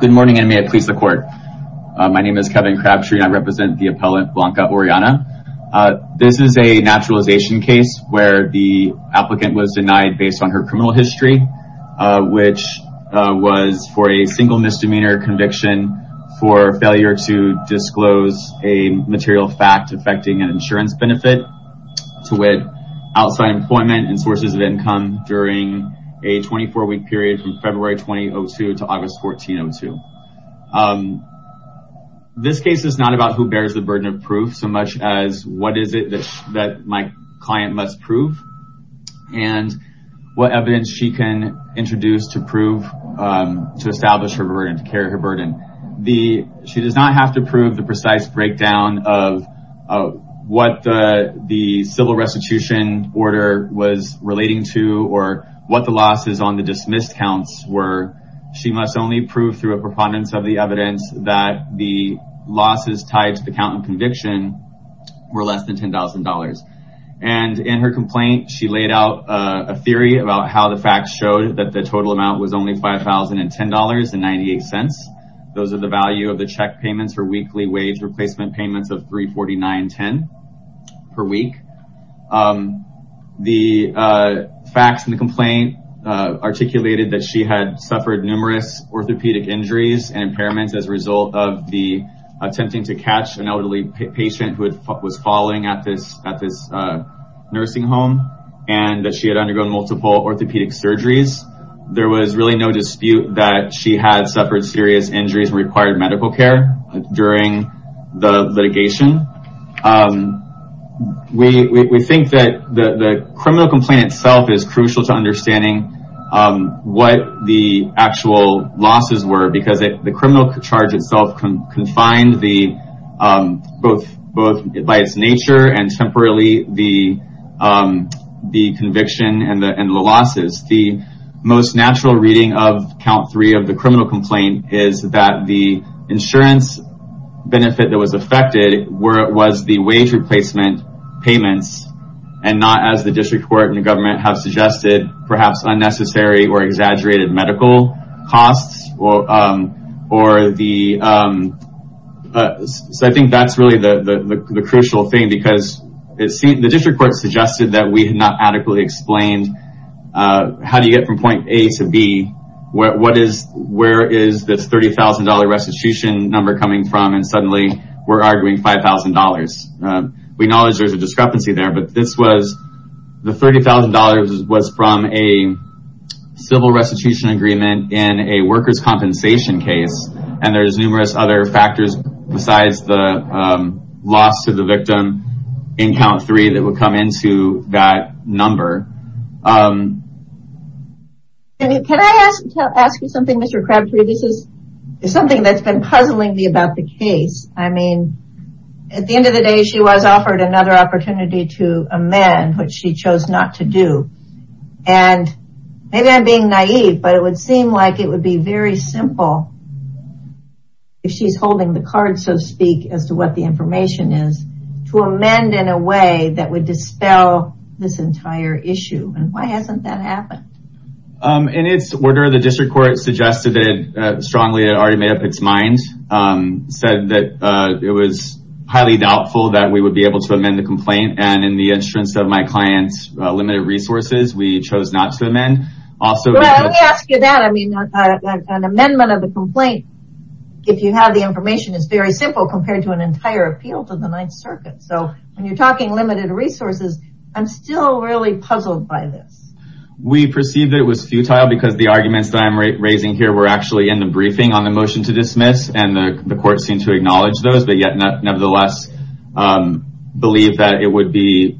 Good morning and may it please the court my name is Kevin Crabtree and I represent the appellant Blanca Orellana. This is a naturalization case where the applicant was denied based on her criminal history which was for a single misdemeanor conviction for failure to disclose a material fact affecting an insurance benefit to with outside employment and sources of income during a 24-week period from February 2002 to August 1402. This case is not about who bears the burden of proof so much as what is it that my client must prove and what evidence she can introduce to prove to establish her burden to carry her burden. She does not have to prove the precise breakdown of what the civil restitution order was relating to or what the losses on the dismissed counts were. She must only prove through a preponderance of the evidence that the losses tied to the count and conviction were less than $10,000 and in her complaint she laid out a theory about how the facts showed that the total amount was only $5,010.98. Those are the value of the check payments for weekly wage replacement payments of $349.10 per week. The facts in the complaint articulated that she had suffered numerous orthopedic injuries and impairments as a result of the attempting to catch an elderly patient who was falling at this nursing home and that she had undergone multiple orthopedic surgeries. There was really no dispute that she had during the litigation. We think that the criminal complaint itself is crucial to understanding what the actual losses were because the criminal charge itself confined the both by its nature and temporarily the conviction and the losses. The most natural reading of count three of the criminal complaint is that the insurance benefit that was affected was the wage replacement payments and not as the district court and the government have suggested perhaps unnecessary or exaggerated medical costs. I think that's really the crucial thing because the district court suggested that we had not adequately explained how do you get from point A to B where is this $30,000 restitution number coming from and suddenly we're arguing $5,000. We know there's a discrepancy there but this was the $30,000 was from a civil restitution agreement in a workers compensation case and there's numerous other factors besides the loss to the victim in count four. Can I ask you something Mr. Crabtree? This is something that's been puzzling me about the case. I mean at the end of the day she was offered another opportunity to amend which she chose not to do and maybe I'm being naive but it would seem like it would be very simple if she's holding the card so speak as to what the issue and why hasn't that happened? In its order the district court suggested it strongly already made up its mind said that it was highly doubtful that we would be able to amend the complaint and in the interest of my clients limited resources we chose not to amend. I mean an amendment of the complaint if you have the information is very simple compared to an entire appeal to the Ninth Circuit so when you're talking limited resources I'm still really puzzled by this. We perceived it was futile because the arguments that I'm raising here were actually in the briefing on the motion to dismiss and the court seemed to acknowledge those but yet nevertheless believe that it would be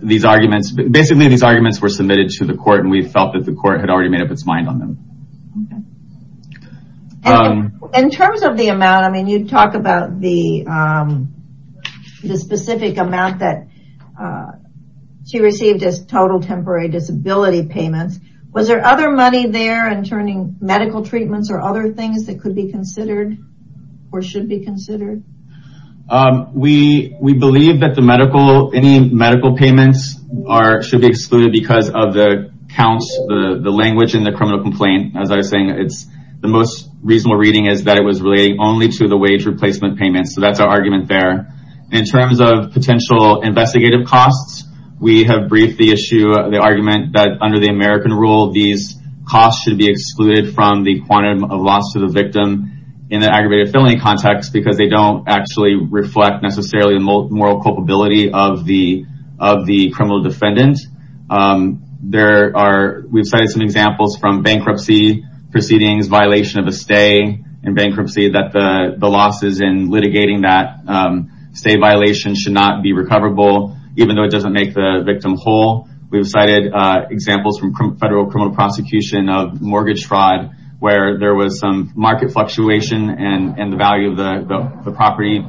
these arguments basically these arguments were submitted to the court and we felt that the court had already made up its mind on them. In terms of the amount I mean you talk about the specific amount that she received as temporary disability payments was there other money there and turning medical treatments or other things that could be considered or should be considered? We we believe that the medical any medical payments are should be excluded because of the counts the the language in the criminal complaint as I was saying it's the most reasonable reading is that it was relating only to the wage replacement payments so that's our argument there. In terms of potential investigative costs we have briefed the issue the argument that under the American rule these costs should be excluded from the quantum of loss to the victim in the aggravated felony context because they don't actually reflect necessarily the moral culpability of the of the criminal defendant. There are we've cited some examples from bankruptcy proceedings violation of a stay and bankruptcy that the the losses in litigating that stay violation should not be recoverable even though it doesn't make the victim whole. We've cited examples from federal criminal prosecution of mortgage fraud where there was some market fluctuation and and the value of the property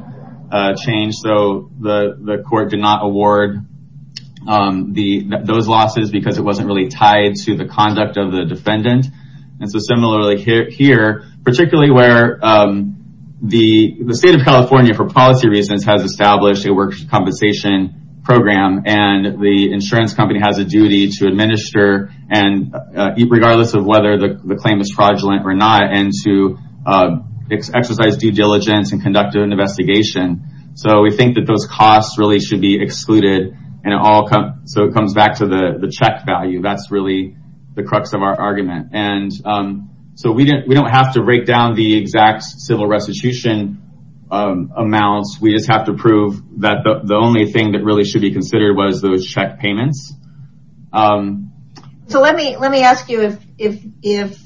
change so the the court did not award the those losses because it wasn't really tied to the conduct of the defendant and so similarly here particularly where the the state of California for policy reasons has established a work compensation program and the insurance company has a duty to administer and regardless of whether the claim is fraudulent or not and to exercise due diligence and conduct an investigation so we think that those costs really should be excluded and it all come so it comes back to the the check value that's really the crux of our argument and so we didn't we don't have to break down the exact civil restitution amounts we just have to prove that the only thing that really should be considered was those check payments. So let me let me ask you if if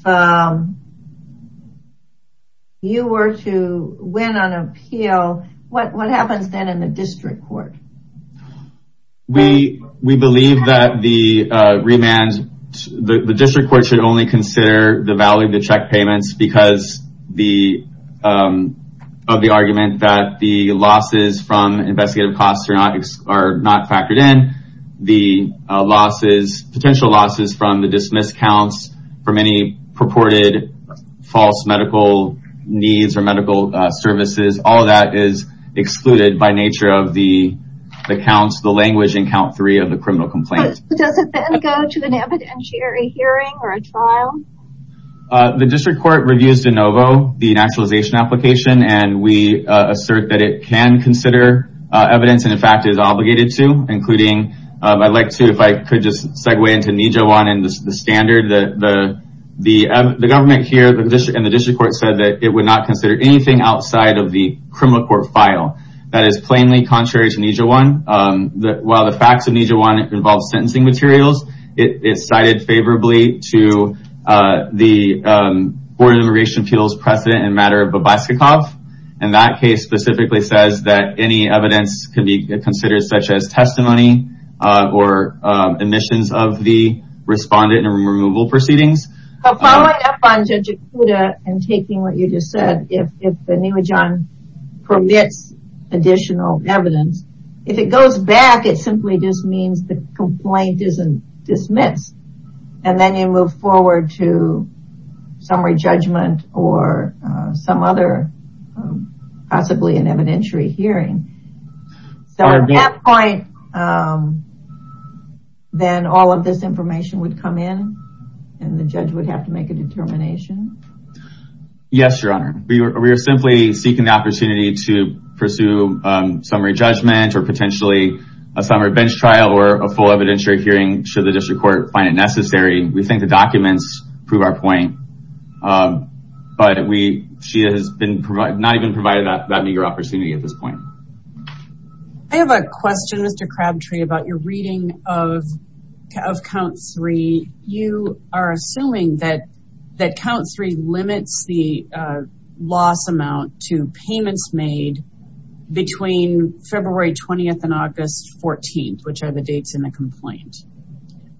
you were to win on appeal what what happens then in the district court? We we believe that the remand the district court should only consider the value of the check payments because the of the argument that the losses from investigative costs are not are not factored in the losses potential losses from the dismissed counts for many purported false medical needs or medical services all that is excluded by nature of the accounts the language in count three of the criminal complaint. Does it go to an evidentiary hearing or a trial? The district court reviews de novo the naturalization application and we assert that it can consider evidence and in fact is obligated to including I'd like to if I could just segue into Nijoan and the standard that the the government here the district and the district court said that it would not consider anything outside of the criminal court file that is plainly contrary to Nijoan that while the facts of Nijoan involve sentencing materials it is cited favorably to the Board of Immigration Appeals precedent in matter of Babysakov and that case specifically says that any evidence can be considered such as testimony or admissions of the respondent and removal proceedings. Following up on Judge Ikuda and taking what you just said if the Nijoan permits additional evidence if it goes back it simply just means the complaint isn't dismissed and then you move forward to summary judgment or some other possibly an evidentiary hearing. So at that point then all of this information would come in and the judge would have to make a determination? Yes your honor. We are simply seeking the opportunity to pursue summary judgment or potentially a summary bench trial or a full evidentiary hearing should the district court find it necessary. We think the documents prove our point but we she has been not even provided that meager opportunity at this point. I have a question Mr. Crabtree about your reading of count three. You are assuming that that count three limits the loss amount to payments made between February 20th and August 14th which are the dates in the complaint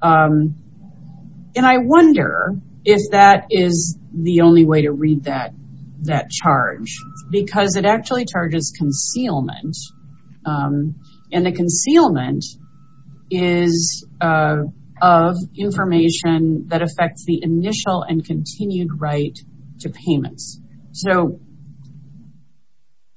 and I wonder if that is the only way to read that that charge because it actually charges concealment and the concealment is of information that affects the initial and continued right to payments. So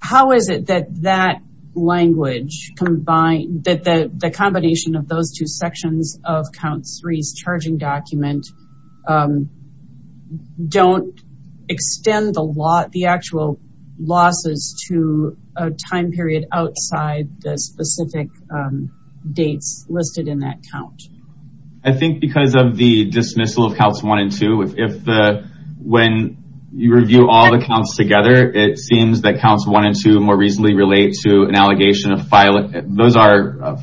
how is it that that language combined that the the combination of those two sections of count threes charging document don't extend a lot the actual losses to a time period outside the specific dates listed in that count? I think because of the dismissal of counts one and two if the when you review all the counts together it seems that counts one and two more reasonably relate to an allegation of filing those are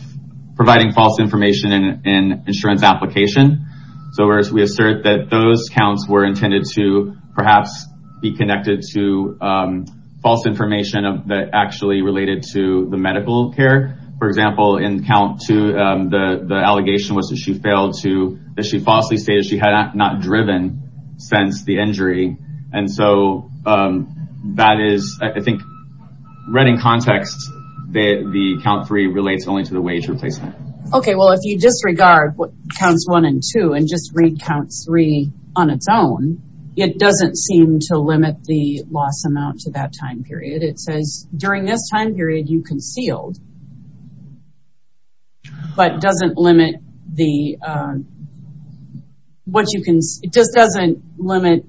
providing false information in an insurance application. So as we assert that those counts were intended to perhaps be connected to false information of that actually related to the medical care for example in count two the the allegation was that she failed to that she falsely stated she had not driven since the injury and so that is I think read in context that the count three relates only to the wage replacement. Okay well if you disregard what counts one and two and just read count three on its own it doesn't seem to limit the loss amount to that time period it says during this time period you concealed but doesn't limit the what you can it just doesn't limit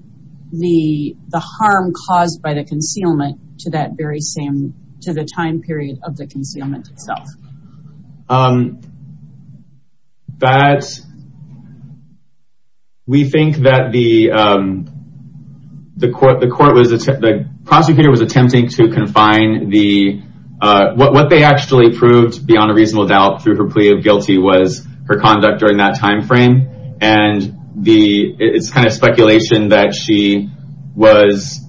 the the harm caused by the concealment to that very same to the time period of the concealment itself. That we think that the the court the court was the prosecutor was attempting to confine the what they actually proved beyond a reasonable doubt through her plea of guilty was her conduct during that time frame and the it's kind of speculation that she was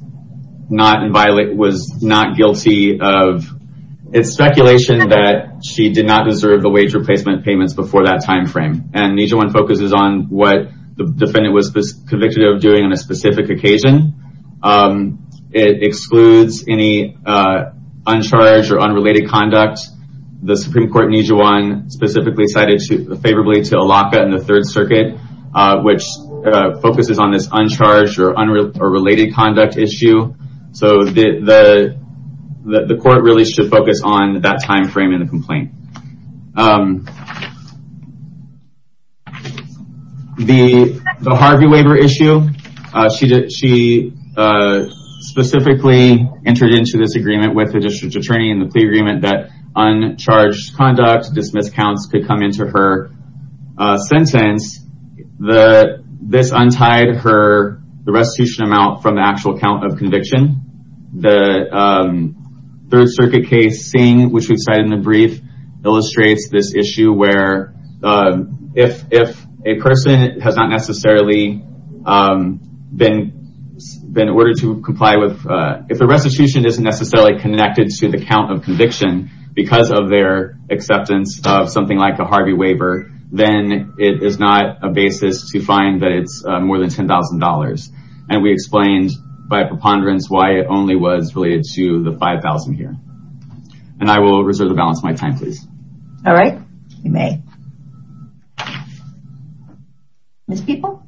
not in violent was not guilty of it's speculation that she did not deserve the wage replacement payments before that time frame and Nijewan focuses on what the defendant was convicted of doing on a specific occasion it excludes any uncharged or unrelated conduct the Supreme Court Nijewan specifically cited to favorably to a lockout in the Third Circuit which focuses on this uncharged or unrelated or related conduct issue so the court really should focus on that time frame in the complaint. The Harvey waiver issue she did she specifically entered into this agreement with the district attorney in the plea agreement that uncharged conduct dismissed counts could come into her sentence the this untied her the restitution amount from the actual count of conviction the Third Circuit case seeing which we've cited in a brief illustrates this issue where if if a person has not necessarily been been ordered to comply with if the restitution isn't necessarily connected to the count of conviction because of their acceptance of something like a Harvey waiver then it is not a basis to find that it's more than ten thousand dollars and we explained by preponderance why it only was related to the five thousand here and I will reserve the balance my time please. All right you may. Ms. Peoples.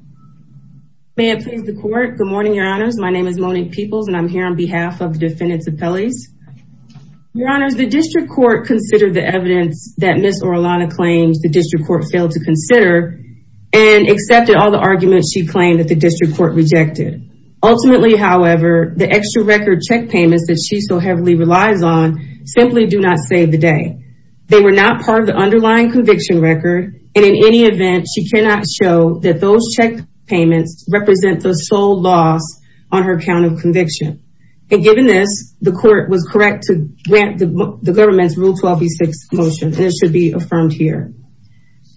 May it please the court good morning your honors my name is Monique Peoples and I'm here on behalf of the defendants appellees. Your honors the district court considered the evidence that Ms. Orellana claims the district court failed to consider and accepted all the arguments she claimed that the district court rejected. Ultimately however the extra record check payments that she so heavily relies on simply do not save the day. They were not part of the underlying conviction record and in any event she cannot show that those check payments represent the sole loss on her count of conviction and given this the court was correct to grant the government's rule 12b6 motion and it should be affirmed here.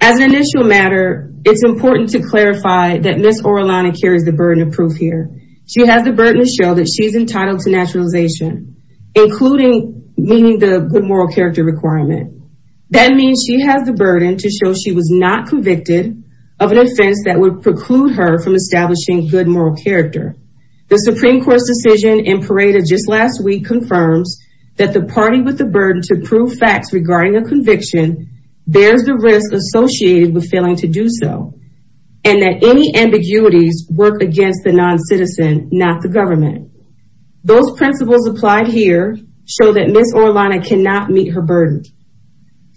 As an initial matter it's important to clarify that Ms. Orellana carries the burden of proof here. She has the burden to show that she's entitled to naturalization including meaning the good moral character requirement. That means she has the burden to show she was not convicted of an offense that would preclude her from establishing good moral character. The Supreme Court's decision in Parada just last week confirms that the party with the burden to prove facts regarding a conviction bears the risk associated with failing to do so and that any ambiguities work against the non-citizen not the government. Those principles applied here show that Ms. Orellana cannot meet her burden.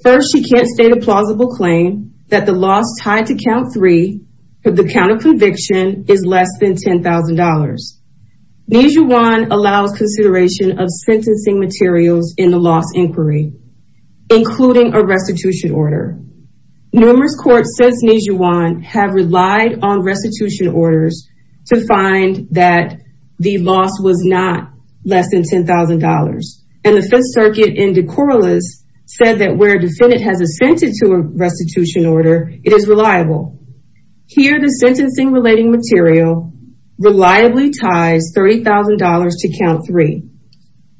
First she can't state a plausible claim that the loss tied to count three for the count of conviction is less than $10,000. Nijuwan allows consideration of sentencing materials in the loss inquiry including a restitution order. Numerous courts since Nijuwan have relied on restitution orders to find that the loss was not less than $10,000 and the Fifth Circuit in De Corolla's said that where defendant has assented to a restitution order it is reliable. Here the sentencing relating material reliably ties $30,000 to count three.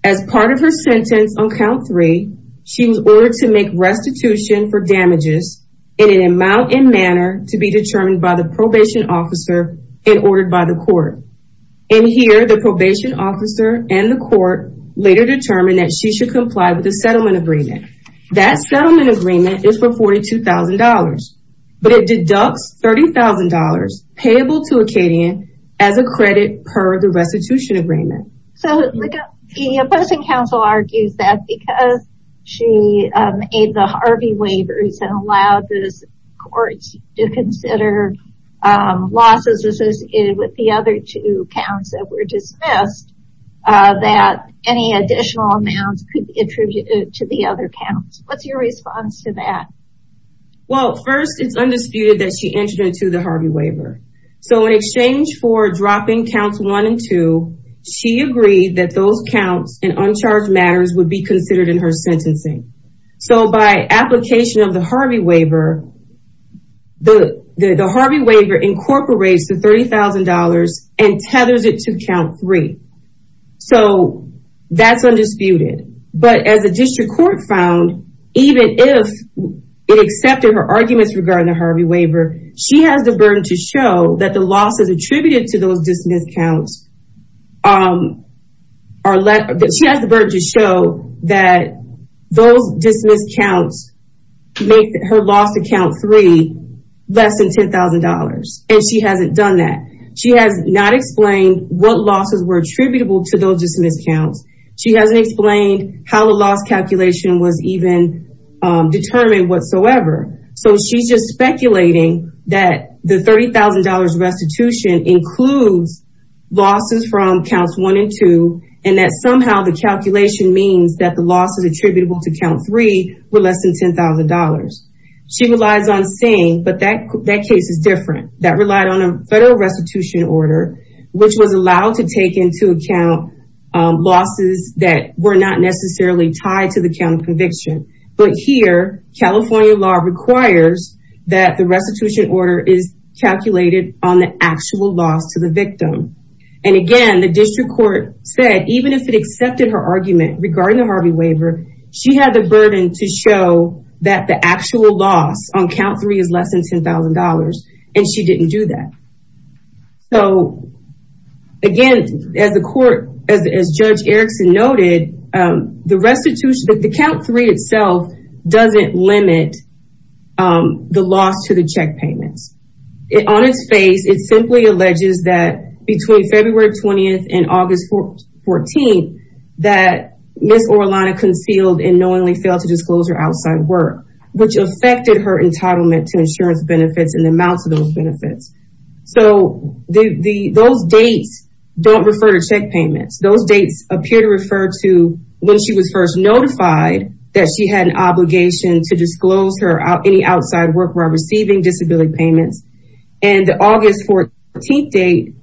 As part of her sentence on count three she was ordered to make restitution for damages in an amount in manner to be determined by the probation officer and ordered by the court. In here the probation officer and the court later determined that she should comply with the settlement agreement. That settlement agreement is for $42,000 but it deducts $30,000 payable to Acadian as a credit per the restitution agreement. So the opposing counsel argues that because she made the Harvey waivers and allowed the courts to consider losses associated with the other two counts that were dismissed that any additional amounts could be attributed to the other counts. What's your response to that? Well first it's undisputed that she entered into the Harvey waiver so in exchange for she agreed that those counts and uncharged matters would be considered in her sentencing. So by application of the Harvey waiver the the Harvey waiver incorporates the $30,000 and tethers it to count three. So that's undisputed but as a district court found even if it accepted her arguments regarding the Harvey waiver she has the burden to show that the losses attributed to those dismissed counts are less. She has the burden to show that those dismissed counts make her loss to count three less than $10,000 and she hasn't done that. She has not explained what losses were attributable to those dismissed counts. She hasn't explained how the loss calculation was even determined whatsoever. So she's just speculating that the $30,000 restitution includes losses from counts one and two and that somehow the calculation means that the losses attributable to count three were less than $10,000. She relies on saying but that that case is different that relied on a federal restitution order which was allowed to take into account losses that were not necessarily tied to the count of conviction but here California law requires that the restitution order is calculated on the actual loss to the victim and again the district court said even if it accepted her argument regarding the Harvey waiver she had the burden to show that the actual loss on count three is less than $10,000 and she didn't do that. So again as the court as the loss to the check payments. On its face it simply alleges that between February 20th and August 14th that Miss Orlano concealed and knowingly failed to disclose her outside work which affected her entitlement to insurance benefits and the amounts of those benefits. So the those dates don't refer to check payments those dates appear to refer to when she was first notified that she had obligation to disclose her any outside work while receiving disability payments and the August 14th date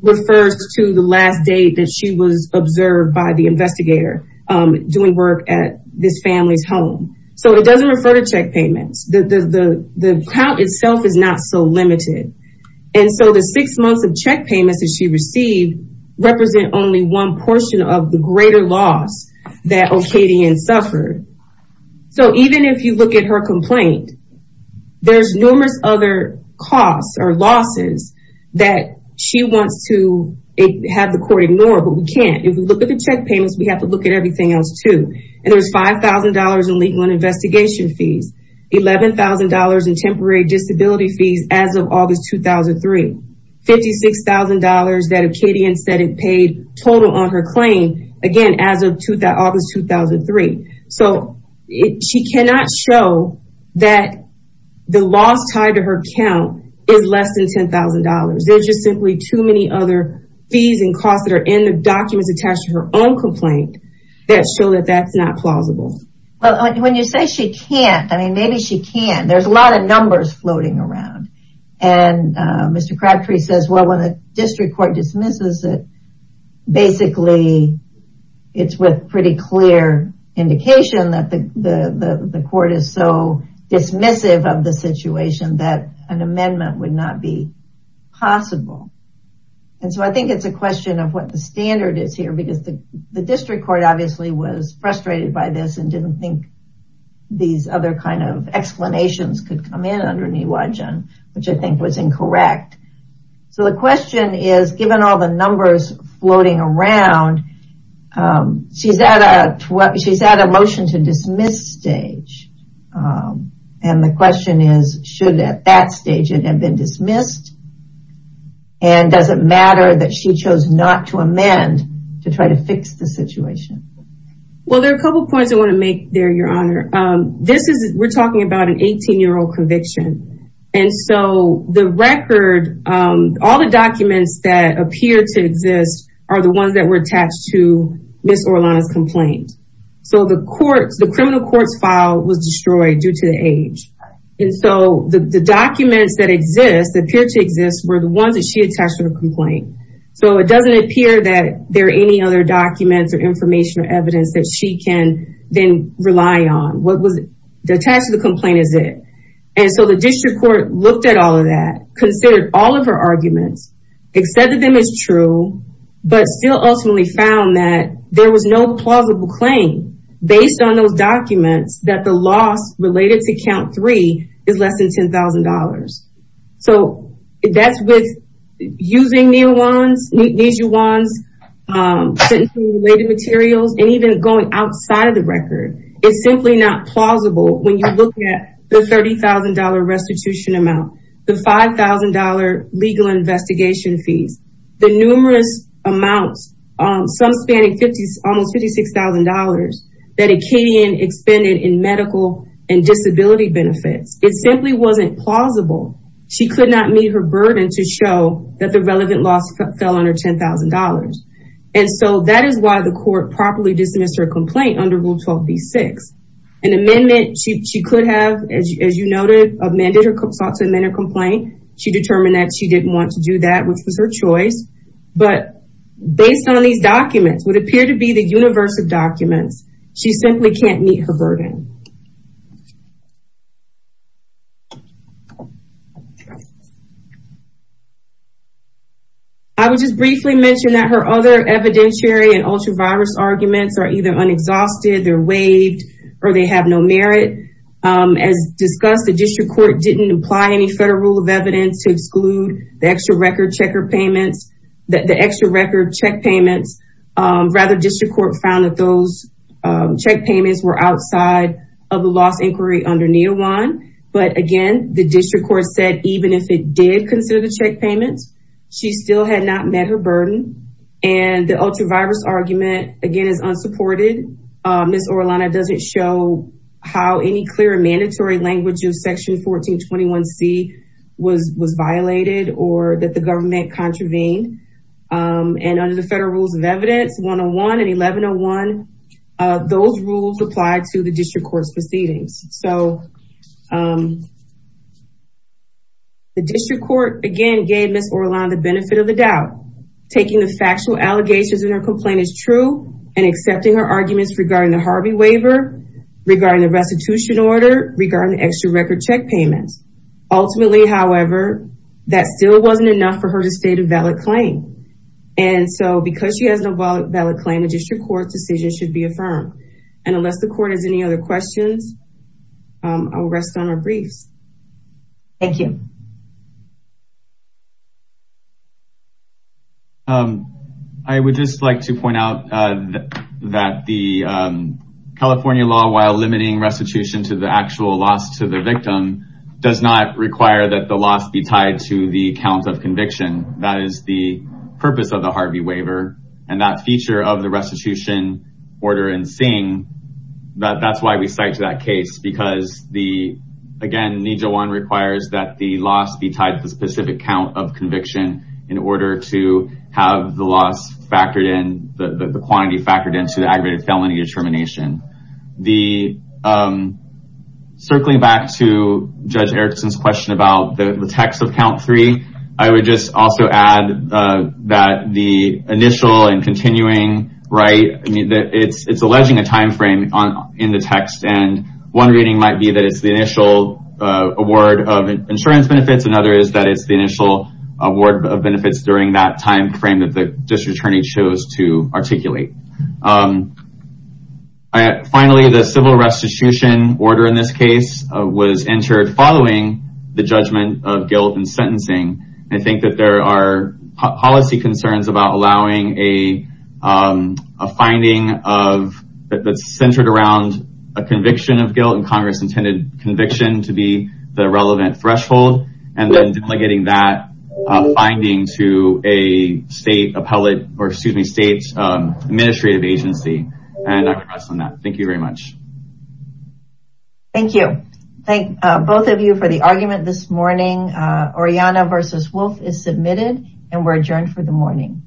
refers to the last date that she was observed by the investigator doing work at this family's home. So it doesn't refer to check payments the count itself is not so limited and so the six months of check payments that she received represent only one portion of the greater loss that Okadian suffered. So even if you look at her complaint there's numerous other costs or losses that she wants to have the court ignore but we can't. If we look at the check payments we have to look at everything else too and there's $5,000 in legal and investigation fees, $11,000 in temporary disability fees as of August 2003, $56,000 that Okadian said it paid total on her claim again as of August 2003. So she cannot show that the loss tied to her count is less than $10,000 there's just simply too many other fees and costs that are in the documents attached to her own complaint that show that that's not plausible. When you say she can't I mean maybe she can there's a lot of numbers floating around and Mr. Crabtree says well when a district court dismisses it basically it's with pretty clear indication that the the court is so dismissive of the situation that an amendment would not be possible. And so I think it's a question of what the standard is here because the the district court obviously was frustrated by this and didn't think these other kind of explanations could come in under Niiwajan which I think was incorrect. So the question is given all the numbers floating around she's at a motion to dismiss stage and the question is should at that stage it have been dismissed and does it matter that she chose not to amend to try to fix the situation? Well there are a couple points I want to make there your honor. This is we're talking about an 18 year old are the ones that were attached to Ms. Orellana's complaint. So the courts the criminal courts file was destroyed due to the age and so the documents that exist appear to exist were the ones that she attached to her complaint. So it doesn't appear that there are any other documents or information or evidence that she can then rely on. What was attached to the complaint is it. And so the district court looked at all of that, considered all of her arguments, accepted them as true, but still ultimately found that there was no plausible claim based on those documents that the loss related to count three is less than $10,000. So that's with using Niiwajan's sentencing related materials and even going outside of the record. It's simply not plausible when you look at the $30,000 restitution amount, the $5,000 legal investigation fees, the numerous amounts on some spanning 50s almost $56,000 that Acadian expended in medical and disability benefits. It simply wasn't plausible. She could not meet her burden to show that the relevant loss fell under $10,000. And so that is why the court properly dismissed her complaint under Rule 12b-6. An amendment she could have, as you noted, amended her complaint. She determined that she didn't want to do that, which was her choice. But based on these documents, what appear to be the universe of documents, she simply can't meet her burden. I would just briefly mention that her other evidentiary and ultra-virus arguments are either unexhausted, they're waived, or they have no merit. As discussed, the district court didn't apply any federal rule of evidence to exclude the extra record check payments. Rather, the district court found that those check payments were outside of the loss inquiry under Niiwajan. But again, the district court said even if it did consider the check payments, she still had not met her burden. And the ultra-virus argument, again, is unsupported. Ms. Orellana doesn't show how any clear or mandatory language of Section 1421C was violated or that the government contravened. And under the federal rules of evidence 101 and 1101, those rules apply to the district court's proceedings. So the district court, again, gave Ms. Orellana the benefit of the doubt. Taking the factual allegations in her complaint is true, and accepting her arguments regarding the Harvey waiver, regarding the restitution order, regarding the extra record check payments. Ultimately, however, that still wasn't enough for her to state a valid claim. And so because she has no valid claim, a district court decision should be affirmed. And unless the court has any other questions, I will rest on our briefs. Thank you. I would just like to point out that the California law, while limiting restitution to the actual loss to the victim, does not require that the loss be tied to the count of conviction. That is the purpose of the Harvey waiver. And that feature of the restitution order in Sing, that's why we cite that case. Because, again, NINJA 1 requires that the loss be tied to the specific count of conviction in order to have the loss factored in, the quantity factored into the aggravated felony determination. Circling back to Judge Erickson's question about the text of count three, I would just also add that the initial and continuing right, it's alleging a timeframe in the text. And one reading might be that it's the initial award of insurance benefits. Another is that it's the initial award of benefits during that timeframe that the district attorney chose to articulate. Finally, the civil restitution order in this case was entered following the judgment of guilt and sentencing. I think that there are policy concerns about allowing a finding that's centered around a Congress-intended conviction to be the relevant threshold, and then delegating that finding to a state appellate, or excuse me, state's administrative agency. And I can rest on that. Thank you very much. Thank you. Thank both of you for the argument this morning. Oriana versus Wolf is submitted, and we're adjourned for the morning.